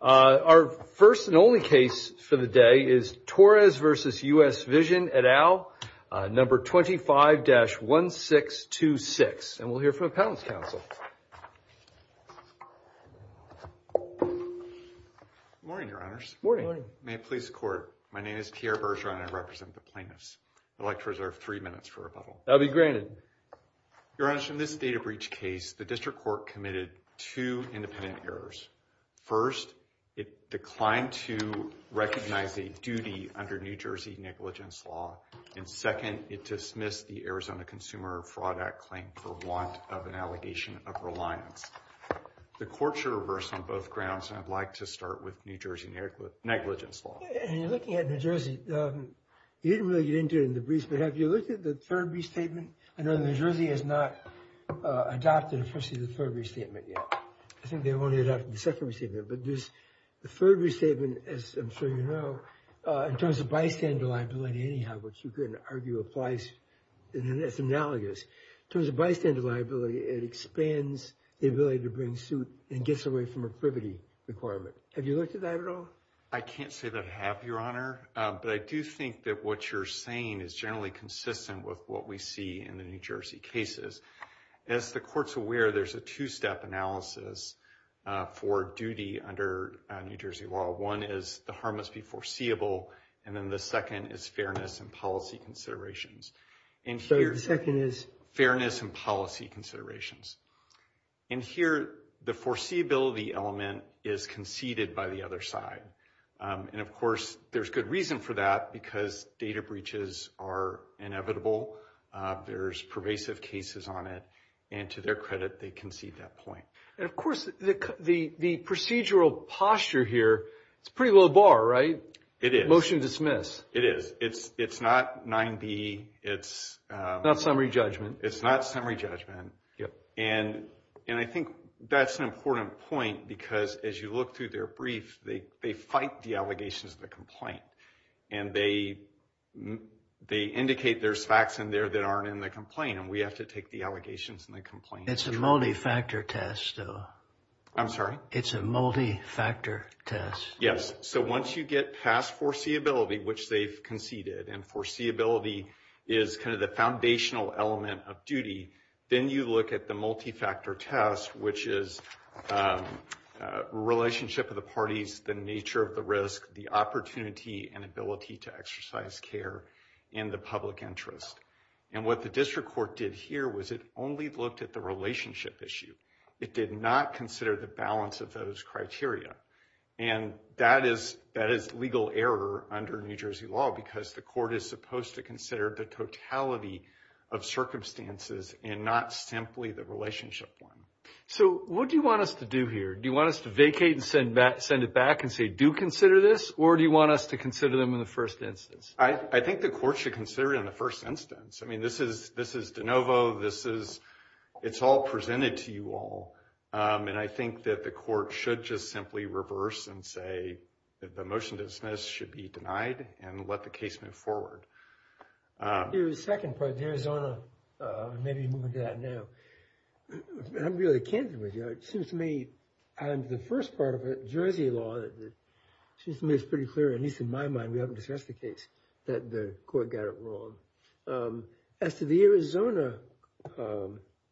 Our first and only case for the day is Torres v. US Vision et al., No. 25-1626, and we'll hear from the Appellant's Counsel. Good morning, Your Honors. Good morning. May it please the Court, my name is Pierre Bergeron and I represent the plaintiffs. I'd like to reserve three minutes for rebuttal. That will be granted. Your Honors, in this data breach case, the District Court committed two independent errors. First, it declined to recognize a duty under New Jersey negligence law. And second, it dismissed the Arizona Consumer Fraud Act claim for want of an allegation of reliance. The Court should reverse on both grounds, and I'd like to start with New Jersey negligence law. When you're looking at New Jersey, you didn't really get into it in the briefs, but have you looked at the third restatement? I know New Jersey has not adopted, of course, the third restatement yet. I think they only adopted the second restatement, but there's the third restatement, as I'm sure you know, in terms of bystander liability, anyhow, which you could argue applies, and it's analogous. In terms of bystander liability, it expands the ability to bring suit and gets away from a privity requirement. Have you looked at that at all? I can't say that I have, Your Honor, but I do think that what you're saying is generally consistent with what we see in the New Jersey cases. As the Court's aware, there's a two-step analysis for duty under New Jersey law. One is the harm must be foreseeable, and then the second is fairness and policy considerations. So the second is? Fairness and policy considerations. And here, the foreseeability element is conceded by the other side. And, of course, there's good reason for that because data breaches are inevitable. There's pervasive cases on it, and to their credit, they concede that point. And, of course, the procedural posture here, it's pretty low bar, right? It is. Motion to dismiss. It is. It's not 9B. It's not summary judgment. It's not summary judgment. And I think that's an important point because, as you look through their brief, they fight the allegations of the complaint. And they indicate there's facts in there that aren't in the complaint, and we have to take the allegations in the complaint. It's a multi-factor test, though. I'm sorry? It's a multi-factor test. Yes. So once you get past foreseeability, which they've conceded, and foreseeability is kind of the foundational element of duty, then you look at the multi-factor test, which is relationship of the parties, the nature of the risk, the opportunity and ability to exercise care in the public interest. And what the district court did here was it only looked at the relationship issue. It did not consider the balance of those criteria. And that is legal error under New Jersey law because the court is supposed to consider the totality of circumstances and not simply the relationship one. So what do you want us to do here? Do you want us to vacate and send it back and say, do consider this? Or do you want us to consider them in the first instance? I think the court should consider it in the first instance. I mean, this is de novo. It's all presented to you all. And I think that the court should just simply reverse and say that the motion to dismiss should be denied and let the case move forward. The second part, Arizona, maybe moving to that now. I'm really candid with you. It seems to me the first part of Jersey law, it seems to me it's pretty clear, at least in my mind, we haven't discussed the case, that the court got it wrong. As to the Arizona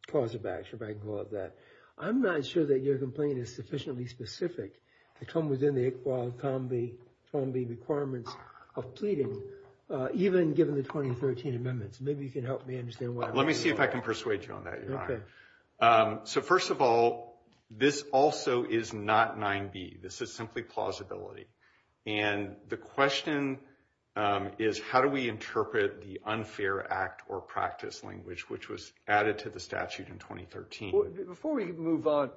clause of action, if I can call it that, I'm not sure that your complaint is sufficiently specific to come within the ICQAW and COMBI requirements of pleading, even given the 2013 amendments. Maybe you can help me understand why. Let me see if I can persuade you on that, Your Honor. So first of all, this also is not 9b. This is simply plausibility. And the question is, how do we interpret the unfair act or practice language, which was added to the statute in 2013? Before we move on,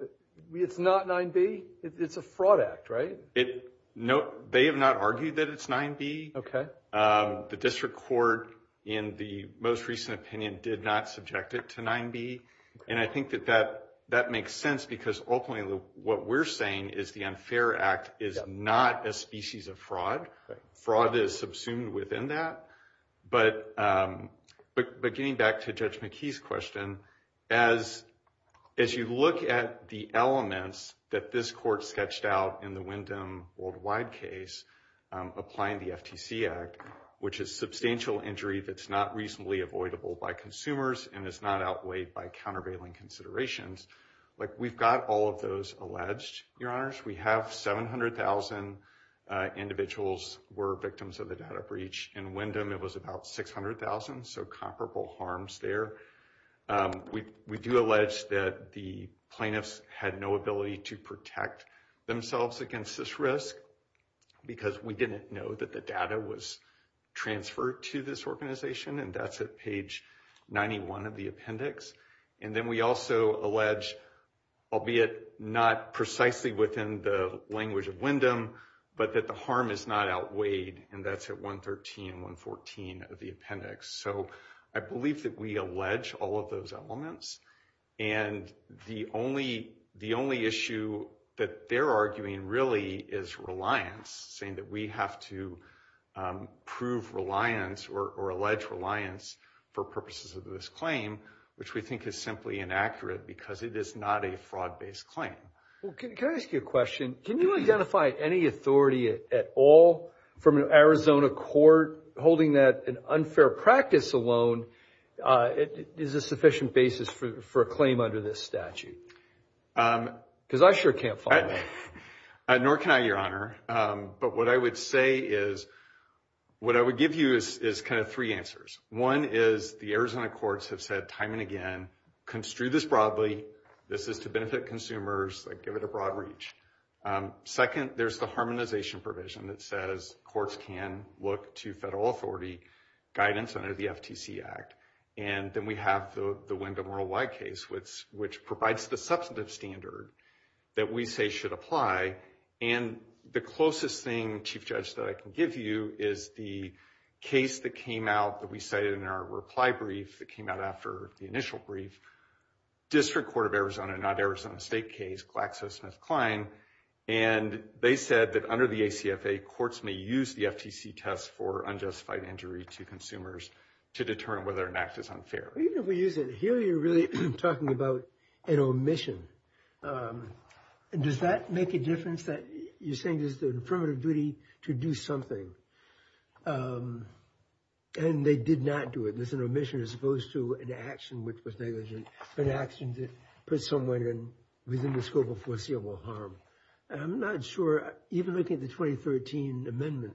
it's not 9b? It's a fraud act, right? They have not argued that it's 9b. The district court, in the most recent opinion, did not subject it to 9b. And I think that that makes sense, because ultimately what we're saying is the unfair act is not a species of fraud. Fraud is subsumed within that. But getting back to Judge McKee's question, as you look at the elements that this court sketched out in the Wyndham Worldwide case, applying the FTC Act, which is substantial injury that's not reasonably avoidable by consumers and is not outweighed by countervailing considerations, we've got all of those alleged, Your Honors. We have 700,000 individuals were victims of the data breach. In Wyndham, it was about 600,000, so comparable harms there. We do allege that the plaintiffs had no ability to protect themselves against this risk, because we didn't know that the data was transferred to this organization, and that's at page 91 of the appendix. And then we also allege, albeit not precisely within the language of Wyndham, but that the harm is not outweighed, and that's at 113 and 114 of the appendix. So I believe that we allege all of those elements. And the only issue that they're arguing really is reliance, saying that we have to prove reliance or allege reliance for purposes of this claim, which we think is simply inaccurate because it is not a fraud-based claim. Well, can I ask you a question? Can you identify any authority at all from an Arizona court holding that an unfair practice alone is a sufficient basis for a claim under this statute? Because I sure can't find one. Nor can I, Your Honor. But what I would say is, what I would give you is kind of three answers. One is the Arizona courts have said time and again, construe this broadly. This is to benefit consumers. Give it a broad reach. Second, there's the harmonization provision that says courts can look to federal authority guidance under the FTC Act. And then we have the Wyndham Worldwide case, which provides the substantive standard that we say should apply. And the closest thing, Chief Judge, that I can give you is the case that came out that we cited in our reply brief that came out after the initial brief, District Court of Arizona, not Arizona State case, GlaxoSmithKline. And they said that under the ACFA, courts may use the FTC test for unjustified injury to consumers to determine whether an act is unfair. Even if we use it here, you're really talking about an omission. Does that make a difference that you're saying there's an affirmative duty to do something and they did not do it? There's an omission as opposed to an action which was negligent, an action to put someone within the scope of foreseeable harm. I'm not sure, even looking at the 2013 amendment,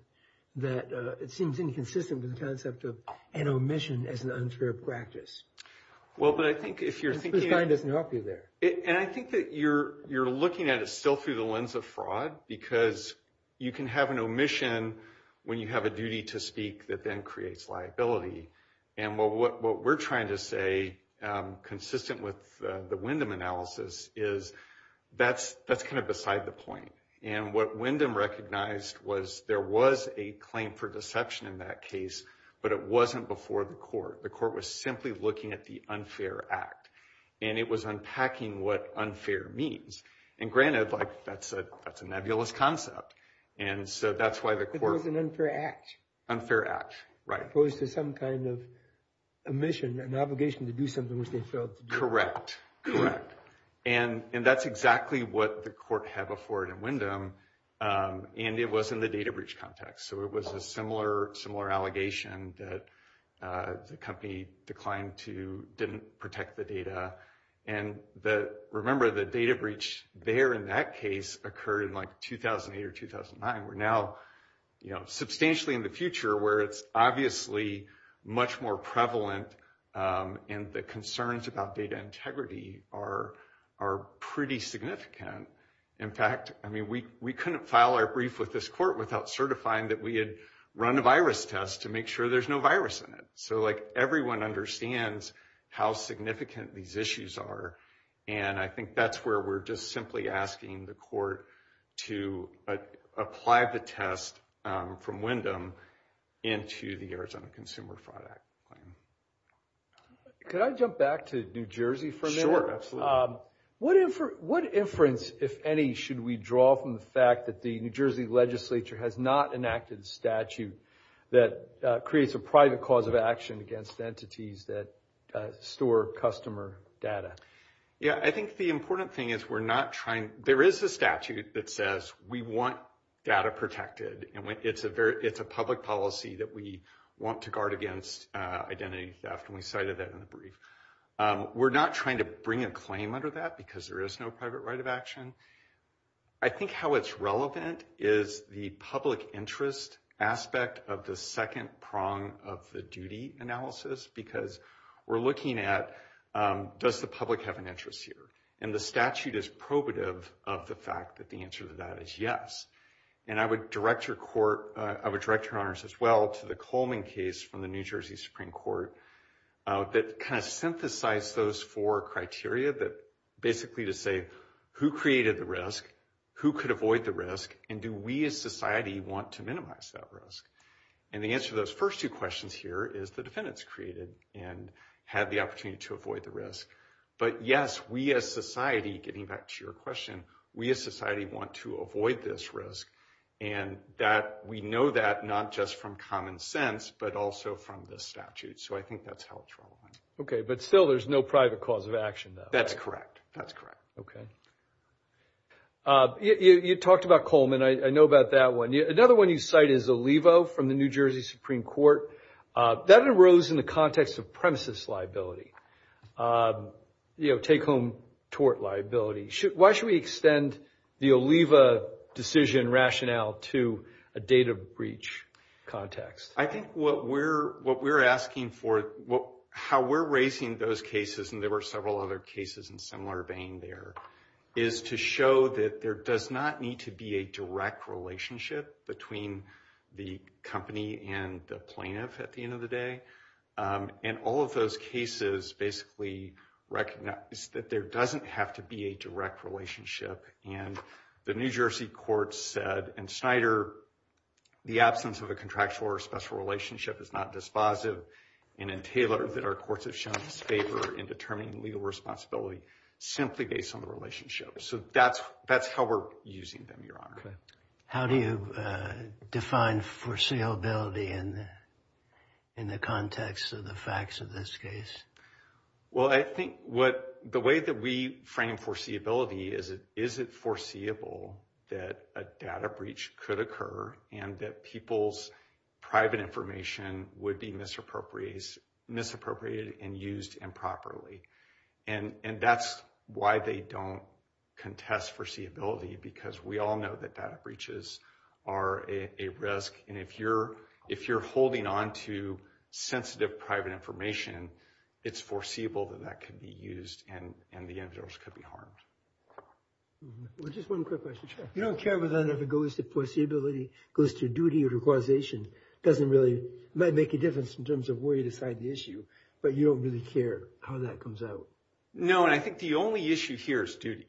that it seems inconsistent with the concept of an omission as an unfair practice. Well, but I think if you're thinking... The sign doesn't help you there. And I think that you're looking at it still through the lens of fraud because you can have an omission when you have a duty to speak that then creates liability. And what we're trying to say, consistent with the Wyndham analysis, is that's kind of beside the point. And what Wyndham recognized was there was a claim for deception in that case, but it wasn't before the court. The court was simply looking at the unfair act, and it was unpacking what unfair means. And granted, that's a nebulous concept, and so that's why the court... But it was an unfair act. Unfair act, right. As opposed to some kind of omission, an obligation to do something which they failed to do. Correct, correct. And that's exactly what the court had before it in Wyndham, and it was in the data breach context. So it was a similar allegation that the company declined to... Didn't protect the data. And remember, the data breach there in that case occurred in 2008 or 2009. We're now substantially in the future where it's obviously much more prevalent, and the concerns about data integrity are pretty significant. In fact, we couldn't file our brief with this court without certifying that we had run a virus test to make sure there's no virus in it. So everyone understands how significant these issues are, and I think that's where we're just simply asking the court to apply the test from Wyndham into the Arizona Consumer Fraud Act claim. Could I jump back to New Jersey for a minute? Sure, absolutely. What inference, if any, should we draw from the fact that the New Jersey legislature has not enacted a statute that creates a private cause of action against entities that store customer data? Yeah, I think the important thing is we're not trying... There is a statute that says we want data protected, and it's a public policy that we want to guard against identity theft, and we cited that in the brief. We're not trying to bring a claim under that because there is no private right of action. I think how it's relevant is the public interest aspect of the second prong of the duty analysis, because we're looking at does the public have an interest here, and the statute is probative of the fact that the answer to that is yes. And I would direct your court... I would direct your honors as well to the Coleman case from the New Jersey Supreme Court that kind of synthesized those four criteria that basically to say who created the risk, who could avoid the risk, and do we as society want to minimize that risk? And the answer to those first two questions here is the defendants created and had the opportunity to avoid the risk. But yes, we as society, getting back to your question, we as society want to avoid this risk, and we know that not just from common sense, but also from the statute. So I think that's how it's relevant. Okay, but still there's no private cause of action, though. That's correct. That's correct. Okay. You talked about Coleman. I know about that one. Another one you cite is Olivo from the New Jersey Supreme Court. That arose in the context of premises liability, take-home tort liability. Why should we extend the Olivo decision rationale to a data breach context? I think what we're asking for, how we're raising those cases, and there were several other cases in similar vein there, is to show that there does not need to be a direct relationship between the company and the plaintiff at the end of the day. And all of those cases basically recognize that there doesn't have to be a direct relationship. And the New Jersey courts said, and Snyder, the absence of a contractual or special relationship is not dispositive and entailer that our courts have shown us favor in determining legal responsibility simply based on the relationship. So that's how we're using them, Your Honor. Okay. How do you define foreseeability in the context of the facts of this case? Well, I think the way that we frame foreseeability is, is it foreseeable that a data breach could occur and that people's private information would be misappropriated and used improperly? And that's why they don't contest foreseeability, because we all know that data breaches are a risk. And if you're holding on to sensitive private information, it's foreseeable that that could be used and the individuals could be harmed. Well, just one quick question. You don't care whether or not it goes to foreseeability, goes to duty or requisition. It doesn't really make a difference in terms of where you decide the issue, but you don't really care how that comes out. No, and I think the only issue here is duty.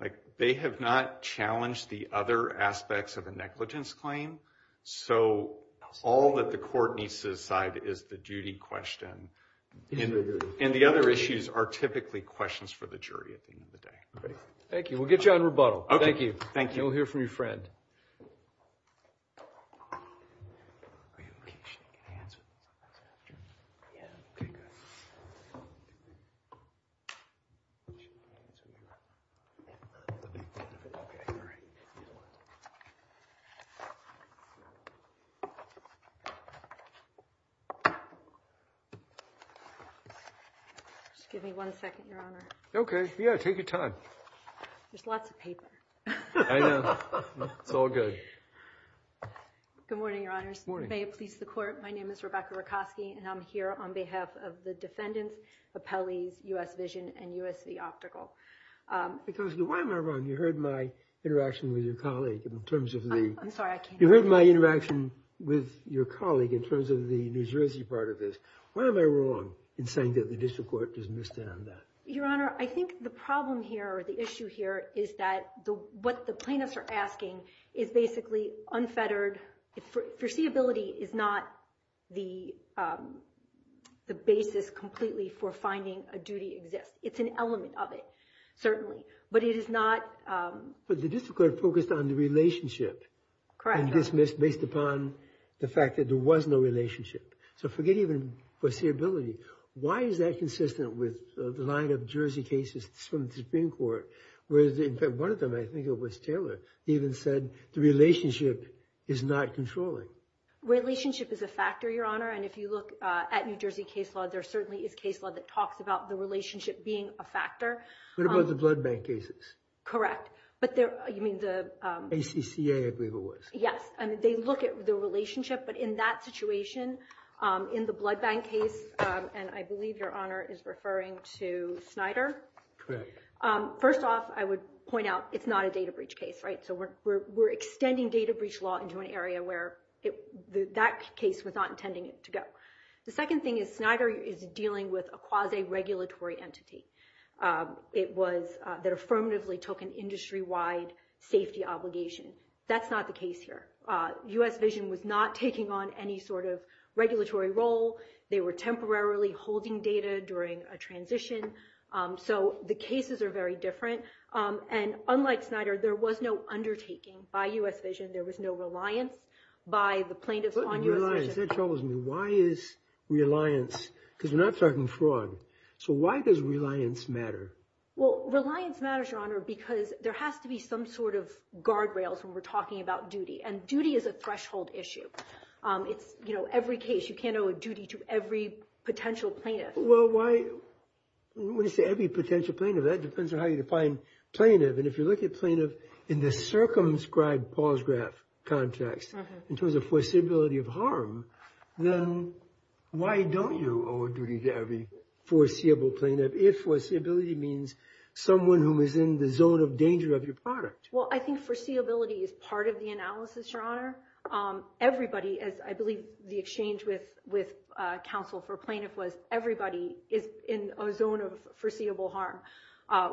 Like, they have not challenged the other aspects of a negligence claim. So all that the court needs to decide is the duty question. And the other issues are typically questions for the jury at the end of the day. Thank you. We'll get you on rebuttal. Thank you. Thank you. We'll hear from your friend. Just give me one second, Your Honor. OK. Yeah, take your time. There's lots of paper. I know. It's all good. Good morning, Your Honors. Good morning. May it please the Court, my name is Rebecca Rakosky, and I'm here on behalf of the defendants, appellees, US Vision and USV Optical. Because why am I wrong? You heard my interaction with your colleague in terms of the... I'm sorry, I can't hear you. You heard my interaction with your colleague in terms of the New Jersey part of this. Why am I wrong in saying that the district court dismissed it on that? Your Honor, I think the problem here, or the issue here, is that what the plaintiffs are asking is basically unfettered. Foreseeability is not the basis completely for finding a duty exists. It's an element of it, certainly. But it is not... But the district court focused on the relationship. Correct. And dismissed based upon the fact that there was no relationship. So forget even foreseeability. Why is that consistent with the line of Jersey cases from the Supreme Court, where one of them, I think it was Taylor, even said the relationship is not controlling? Relationship is a factor, Your Honor, and if you look at New Jersey case law, there certainly is case law that talks about the relationship being a factor. What about the blood bank cases? Correct. But there... You mean the... ACCA, I believe it was. Yes. They look at the relationship, but in that situation, in the blood bank case, and I believe Your Honor is referring to Snyder. Correct. First off, I would point out it's not a data breach case, right? So we're extending data breach law into an area where that case was not intending to go. The second thing is Snyder is dealing with a quasi-regulatory entity. It was... That affirmatively took an industry-wide safety obligation. That's not the case here. U.S. Vision was not taking on any sort of regulatory role. They were temporarily holding data during a transition. So the cases are very different. And unlike Snyder, there was no undertaking by U.S. Vision. There was no reliance by the plaintiffs on U.S. Vision. That troubles me. Why is reliance? Because we're not talking fraud. So why does reliance matter? Well, reliance matters, Your Honor, because there has to be some sort of guardrails when we're talking about duty. And duty is a threshold issue. It's, you know, every case, you can't owe a duty to every potential plaintiff. Well, why... When you say every potential plaintiff, that depends on how you define plaintiff. And if you look at plaintiff in the circumscribed pause graph context, in terms of foreseeability of harm, then why don't you owe a duty to every foreseeable plaintiff if foreseeability means someone who is in the zone of danger of your product? Well, I think foreseeability is part of the analysis, Your Honor. Everybody, as I believe the exchange with counsel for plaintiff was, everybody is in a zone of foreseeable harm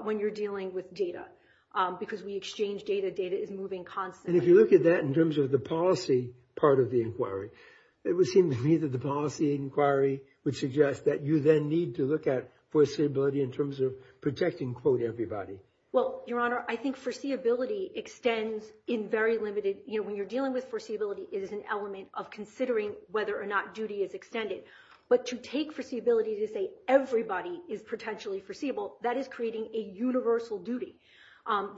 when you're dealing with data. Because we exchange data. Data is moving constantly. And if you look at that in terms of the policy part of the inquiry, it would seem to me that the policy inquiry would suggest that you then need to look at foreseeability in terms of protecting, quote, everybody. Well, Your Honor, I think foreseeability extends in very limited... You know, when you're dealing with foreseeability, it is an element of considering whether or not duty is extended. But to take foreseeability to say everybody is potentially foreseeable, that is creating a universal duty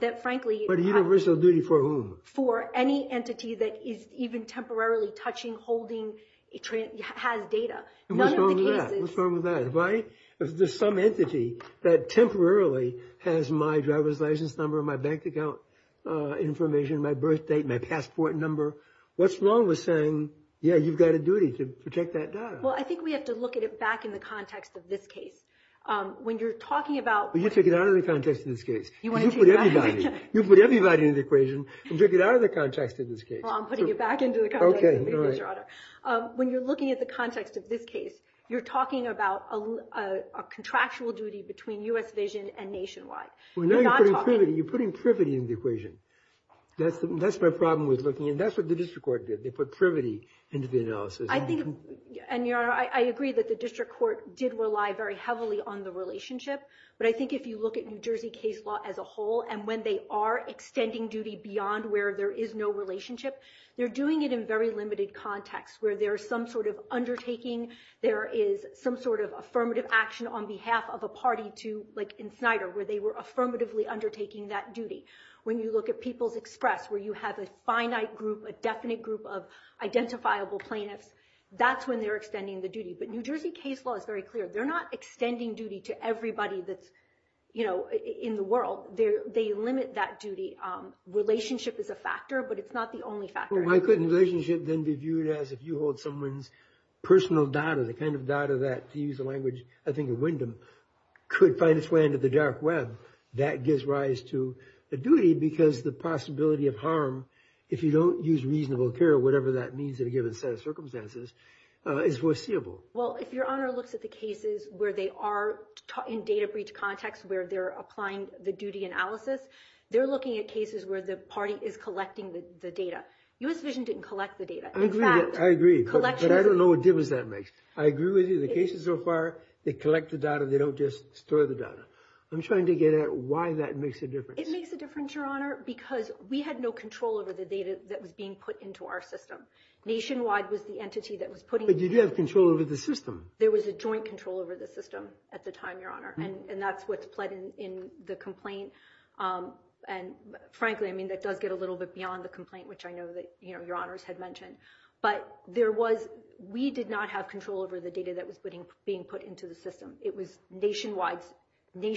that, frankly... But a universal duty for whom? For any entity that is even temporarily touching, holding, has data. None of the cases... What's wrong with that? What's wrong with that? If there's some entity that temporarily has my driver's license number, my bank account information, my birth date, my passport number, what's wrong with saying, yeah, you've got a duty to protect that data? Well, I think we have to look at it back in the context of this case. When you're talking about... Well, you take it out of the context of this case. You want to take it back? You put everybody into the equation and take it out of the context of this case. Well, I'm putting it back into the context of the case, Your Honor. When you're looking at the context of this case, you're talking about a contractual duty between U.S. Vision and Nationwide. You're not talking... You're putting privity into the equation. That's my problem with looking at... That's what the district court did. They put privity into the analysis. I think... And, Your Honor, I agree that the district court did rely very heavily on the relationship. But I think if you look at New Jersey case law as a whole and when they are extending duty beyond where there is no relationship, they're doing it in very limited context where there is some sort of undertaking. There is some sort of affirmative action on behalf of a party to... Like in Snyder where they were affirmatively undertaking that duty. When you look at People's Express where you have a finite group, a definite group of identifiable plaintiffs, that's when they're extending the duty. But New Jersey case law is very clear. They're not extending duty to everybody that's, you know, in the world. They limit that duty. Relationship is a factor, but it's not the only factor. Why couldn't relationship then be viewed as if you hold someone's personal data, the kind of data that, to use the language I think of Wyndham, could find its way into the dark web? That gives rise to a duty because the possibility of harm, if you don't use reasonable care, whatever that means in a given set of circumstances, is foreseeable. Well, if Your Honor looks at the cases where they are in data breach context where they're applying the duty analysis, they're looking at cases where the party is collecting the data. U.S. Vision didn't collect the data. I agree, but I don't know what difference that makes. I agree with you. The cases so far, they collect the data. They don't just store the data. I'm trying to get at why that makes a difference. It makes a difference, Your Honor, because we had no control over the data that was being put into our system. Nationwide was the entity that was putting it. But you did have control over the system. There was a joint control over the system at the time, Your Honor, and that's what's pled in the complaint. And, frankly, I mean, that does get a little bit beyond the complaint, which I know that Your Honors had mentioned. But we did not have control over the data that was being put into the system. It was nationwide's duty,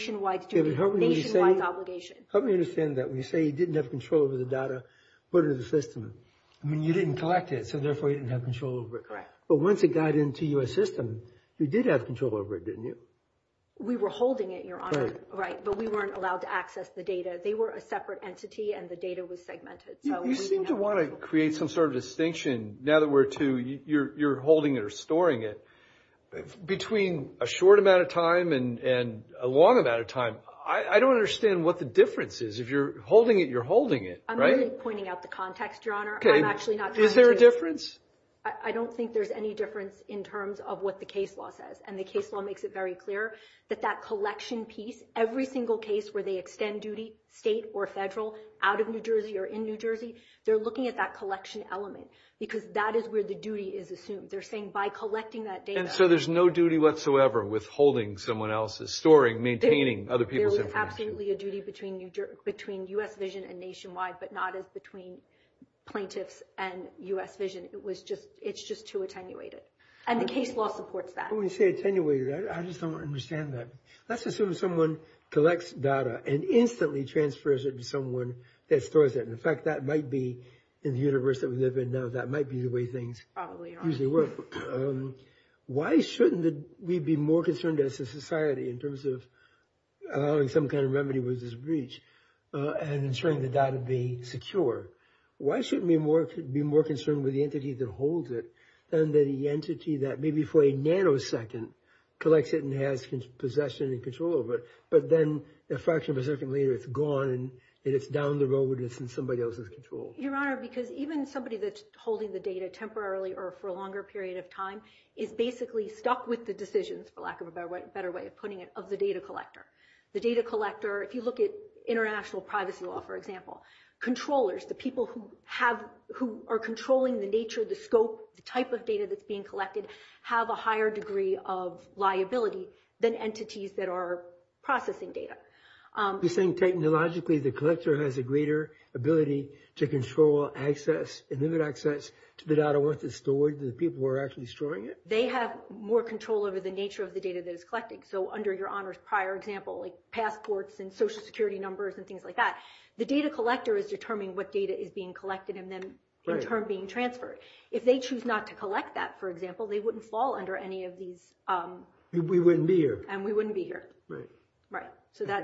nationwide's obligation. Help me understand that. When you say you didn't have control over the data put into the system, I mean, you didn't collect it, so therefore you didn't have control over it. Correct. But once it got into your system, you did have control over it, didn't you? We were holding it, Your Honor. Right. But we weren't allowed to access the data. They were a separate entity, and the data was segmented. You seem to want to create some sort of distinction, now that we're to, you're holding it or storing it. Between a short amount of time and a long amount of time, I don't understand what the difference is. If you're holding it, you're holding it, right? I'm really pointing out the context, Your Honor. I'm actually not trying to. Is there a difference? I don't think there's any difference in terms of what the case law says, and the case law makes it very clear that that collection piece, every single case where they extend duty, state or federal, out of New Jersey or in New Jersey, they're looking at that collection element, because that is where the duty is assumed. They're saying by collecting that data. And so there's no duty whatsoever with holding someone else's, storing, maintaining other people's information. There was absolutely a duty between U.S. Vision and Nationwide, but not as between plaintiffs and U.S. Vision. It's just too attenuated, and the case law supports that. When you say attenuated, I just don't understand that. Let's assume someone collects data and instantly transfers it to someone that stores it. In fact, that might be, in the universe that we live in now, that might be the way things usually work. Why shouldn't we be more concerned as a society in terms of allowing some kind of remedy versus breach and ensuring the data be secure? Why shouldn't we be more concerned with the entity that holds it than the entity that maybe for a nanosecond collects it and has possession and control of it, but then a fraction of a second later it's gone and it's down the road and it's in somebody else's control? Your Honor, because even somebody that's holding the data temporarily or for a longer period of time is basically stuck with the decisions, for lack of a better way of putting it, of the data collector. The data collector, if you look at international privacy law, for example, controllers, the people who are controlling the nature, the scope, the type of data that's being collected, have a higher degree of liability than entities that are processing data. You're saying technologically the collector has a greater ability to control access and limit access to the data once it's stored than the people who are actually storing it? They have more control over the nature of the data that it's collecting. So under Your Honor's prior example, like passports and Social Security numbers and things like that, the data collector is determining what data is being collected and then in turn being transferred. If they choose not to collect that, for example, they wouldn't fall under any of these... We wouldn't be here. And we wouldn't be here. Right. I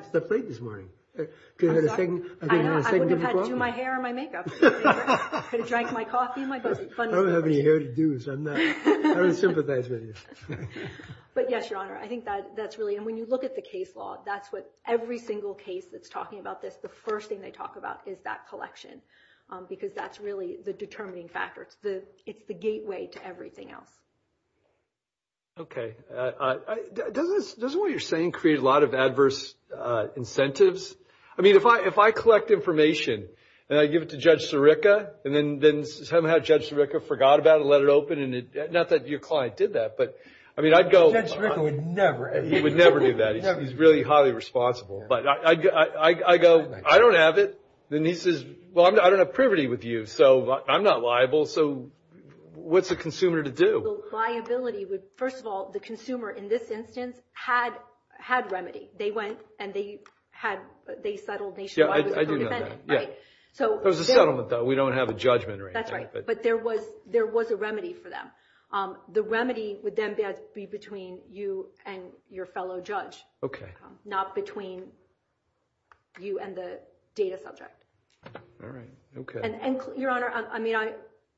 slept late this morning. I'm sorry? I would have had to do my hair and my makeup. I could have drank my coffee and my coffee. I don't have any hair to do, so I don't sympathize with you. But yes, Your Honor, I think that's really, and when you look at the case law, that's what every single case that's talking about this, the first thing they talk about is that collection because that's really the determining factor. It's the gateway to everything else. Okay. Doesn't what you're saying create a lot of adverse incentives? I mean, if I collect information and I give it to Judge Sirica and then somehow Judge Sirica forgot about it and let it open, not that your client did that, but I mean, I'd go... Judge Sirica would never... He would never do that. He's really highly responsible. But I go, I don't have it. Then he says, well, I don't have privity with you, so I'm not liable. So what's a consumer to do? The liability would, first of all, the consumer in this instance had remedy. They went and they settled nationwide with a co-defendant. Yeah, I do know that. There was a settlement, though. We don't have a judgment right now. That's right, but there was a remedy for them. The remedy would then be between you and your fellow judge. Okay. Not between you and the data subject. All right, okay. Your Honor, I mean,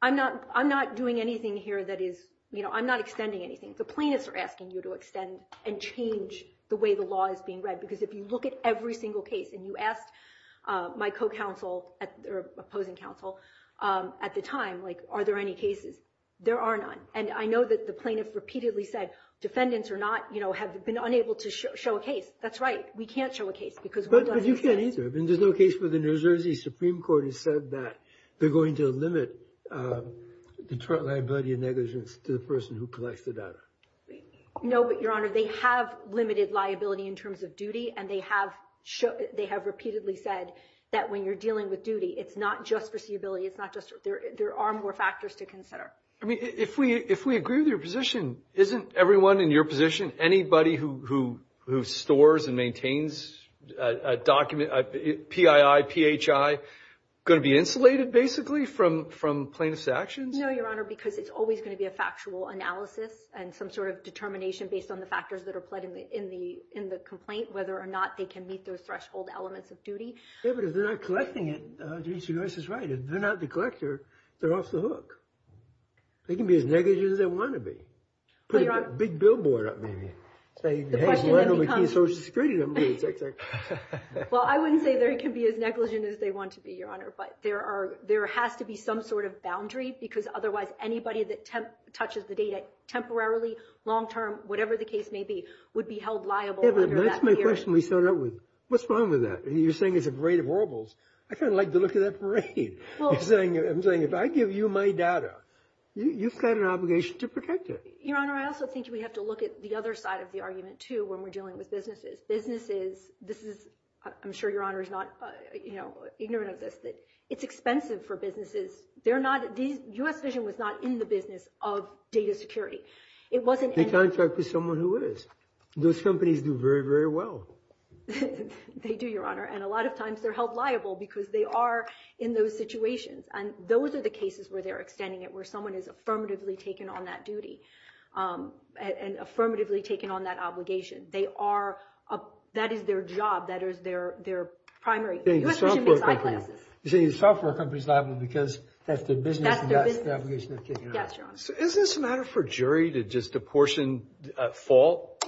I'm not doing anything here that is, you know, I'm not extending anything. The plaintiffs are asking you to extend and change the way the law is being read because if you look at every single case, and you asked my co-counsel or opposing counsel at the time, like, are there any cases? There are none. And I know that the plaintiffs repeatedly said, defendants or not, you know, have been unable to show a case. That's right. We can't show a case. But you can't either. There's no case where the New Jersey Supreme Court has said that they're going to limit the liability and negligence to the person who collects the data. No, but, Your Honor, they have limited liability in terms of duty, and they have repeatedly said that when you're dealing with duty, it's not just foreseeability. There are more factors to consider. I mean, if we agree with your position, isn't everyone in your position, anybody who stores and maintains a document, PII, PHI going to be insulated basically from plaintiff's actions? No, Your Honor, because it's always going to be a factual analysis and some sort of determination based on the factors that are played in the complaint, whether or not they can meet those threshold elements of duty. Yeah, but if they're not collecting it, and they're not the collector, they're off the hook. They can be as negligent as they want to be. Put a big billboard up, maybe. The question then becomes – Well, I wouldn't say they can be as negligent as they want to be, Your Honor, but there has to be some sort of boundary, because otherwise anybody that touches the data temporarily, long-term, whatever the case may be, would be held liable under that period. Yeah, but that's my question we started out with. What's wrong with that? You're saying it's a rate of horribles. I kind of like the look of that parade. I'm saying if I give you my data, you've got an obligation to protect it. Your Honor, I also think we have to look at the other side of the argument, too, when we're dealing with businesses. Businesses – this is – I'm sure Your Honor is not ignorant of this – that it's expensive for businesses. They're not – U.S. Vision was not in the business of data security. It wasn't – They contract with someone who is. Those companies do very, very well. They do, Your Honor, and a lot of times they're held liable because they are in those situations, and those are the cases where they're extending it, where someone is affirmatively taken on that duty and affirmatively taken on that obligation. They are – that is their job. That is their primary – U.S. Vision makes eyeglasses. You're saying the software company is liable because that's their business and that's the obligation they're taking on. Yes, Your Honor. Is this a matter for a jury to just apportion a fault?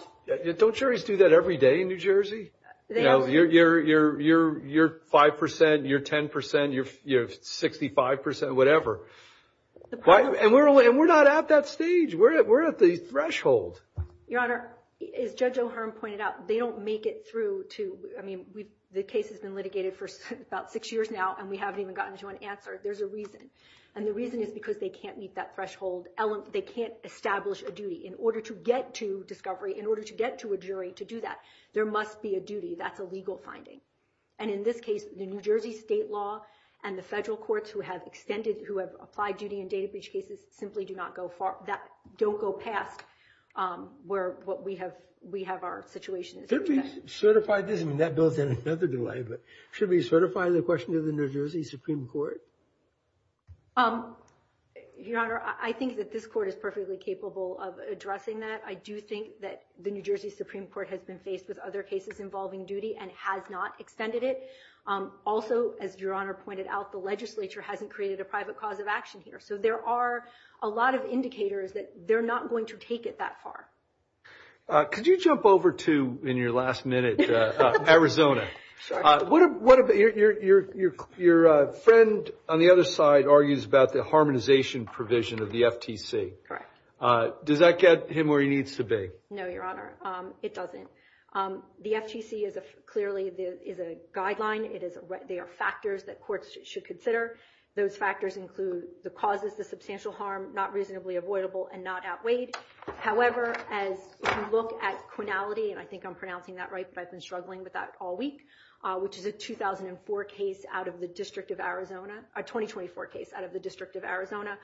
Don't juries do that every day in New Jersey? You know, you're 5 percent, you're 10 percent, you're 65 percent, whatever. And we're not at that stage. We're at the threshold. Your Honor, as Judge O'Hearn pointed out, they don't make it through to – I mean, the case has been litigated for about six years now, and we haven't even gotten to an answer. There's a reason, and the reason is because they can't meet that threshold. They can't establish a duty. In order to get to discovery, in order to get to a jury to do that, there must be a duty. That's a legal finding. And in this case, the New Jersey state law and the federal courts who have extended – who have applied duty in data breach cases simply do not go – don't go past where what we have – we have our situation. Should we certify this? I mean, that bill's had another delay, but should we certify the question to the New Jersey Supreme Court? Your Honor, I think that this court is perfectly capable of addressing that. I do think that the New Jersey Supreme Court has been faced with other cases involving duty and has not extended it. Also, as Your Honor pointed out, the legislature hasn't created a private cause of action here. So there are a lot of indicators that they're not going to take it that far. Could you jump over to, in your last minute, Arizona? Your friend on the other side argues about the harmonization provision of the FTC. Correct. Does that get him where he needs to be? No, Your Honor, it doesn't. The FTC is clearly – is a guideline. They are factors that courts should consider. Those factors include the causes of substantial harm, not reasonably avoidable, and not outweighed. However, as you look at quinality – and I think I'm pronouncing that right, if I've been struggling with that all week, which is a 2004 case out of the District of Arizona – a 2024 case out of the District of Arizona.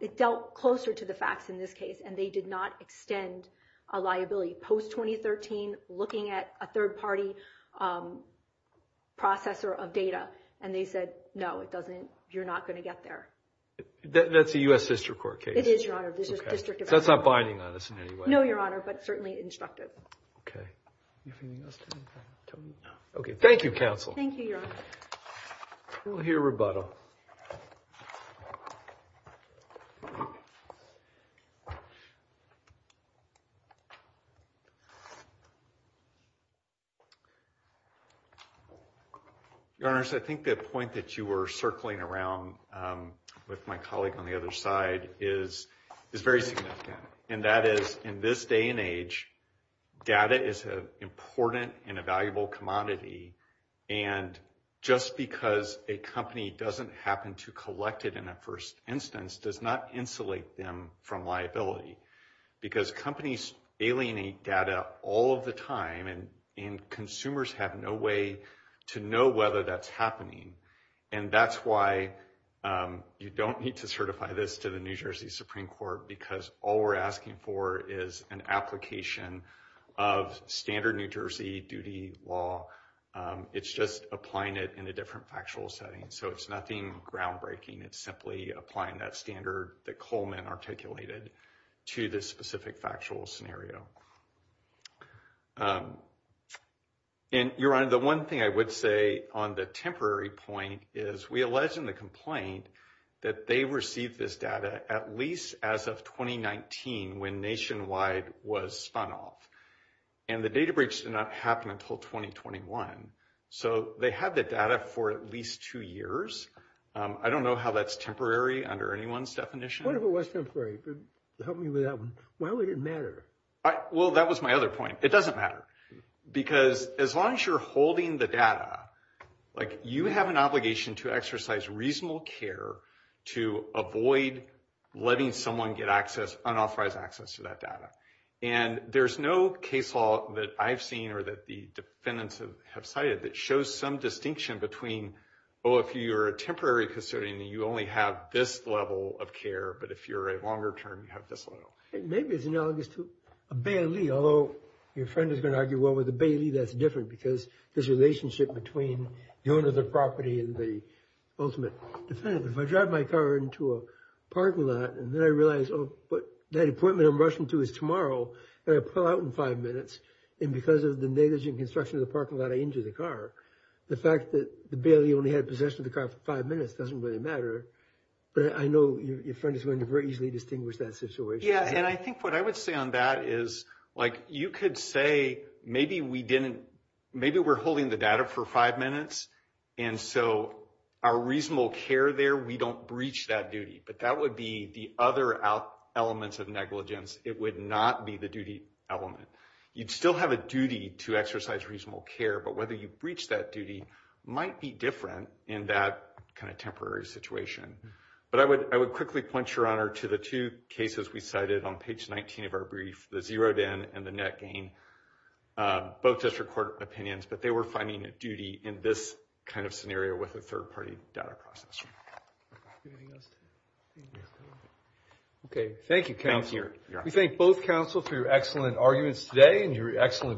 It dealt closer to the facts in this case, and they did not extend a liability. Post-2013, looking at a third-party processor of data, and they said, no, it doesn't – you're not going to get there. That's a U.S. District Court case? It is, Your Honor. So that's not binding on us in any way? No, Your Honor, but certainly instructive. Okay. Okay, thank you, counsel. Thank you, Your Honor. We'll hear rebuttal. Your Honors, I think the point that you were circling around with my colleague on the other side is very significant, and that is, in this day and age, data is an important and a valuable commodity, and just because a company doesn't happen to collect it in the first instance does not insulate them from liability, because companies alienate data all of the time, and consumers have no way to know whether that's happening, and that's why you don't need to certify this to the New Jersey Supreme Court because all we're asking for is an application of standard New Jersey duty law. It's just applying it in a different factual setting, so it's nothing groundbreaking. It's simply applying that standard that Coleman articulated to this specific factual scenario. And, Your Honor, the one thing I would say on the temporary point is we allege in the complaint that they received this data at least as of 2019 when Nationwide was spun off, and the data breach did not happen until 2021, so they had the data for at least two years. I don't know how that's temporary under anyone's definition. What if it was temporary? Help me with that one. Why would it matter? Well, that was my other point. It doesn't matter, because as long as you're holding the data, you have an obligation to exercise reasonable care to avoid letting someone get unauthorized access to that data, and there's no case law that I've seen or that the defendants have cited that shows some distinction between, oh, if you're a temporary custodian, you only have this level of care, but if you're a longer term, you have this level. Maybe it's analogous to a bailee, although your friend is going to argue, well, with a bailee, that's different because there's a relationship between the owner of the property and the ultimate defendant. If I drive my car into a parking lot, and then I realize, oh, that appointment I'm rushing to is tomorrow, and I pull out in five minutes, and because of the negligent construction of the parking lot, I injure the car, the fact that the bailee only had possession of the car for five minutes doesn't really matter, but I know your friend is going to very easily distinguish that situation. Yeah, and I think what I would say on that is, like, you could say maybe we didn't, maybe we're holding the data for five minutes, and so our reasonable care there, we don't breach that duty, but that would be the other elements of negligence. It would not be the duty element. You'd still have a duty to exercise reasonable care, but whether you breach that duty might be different in that kind of temporary situation. But I would quickly point, Your Honor, to the two cases we cited on page 19 of our brief, the zeroed-in and the net gain. Both district court opinions, but they were finding a duty in this kind of scenario with a third-party data process. Anything else? Okay, thank you, counsel. Thank you, Your Honor. We thank both counsel for your excellent arguments today and your excellent brief.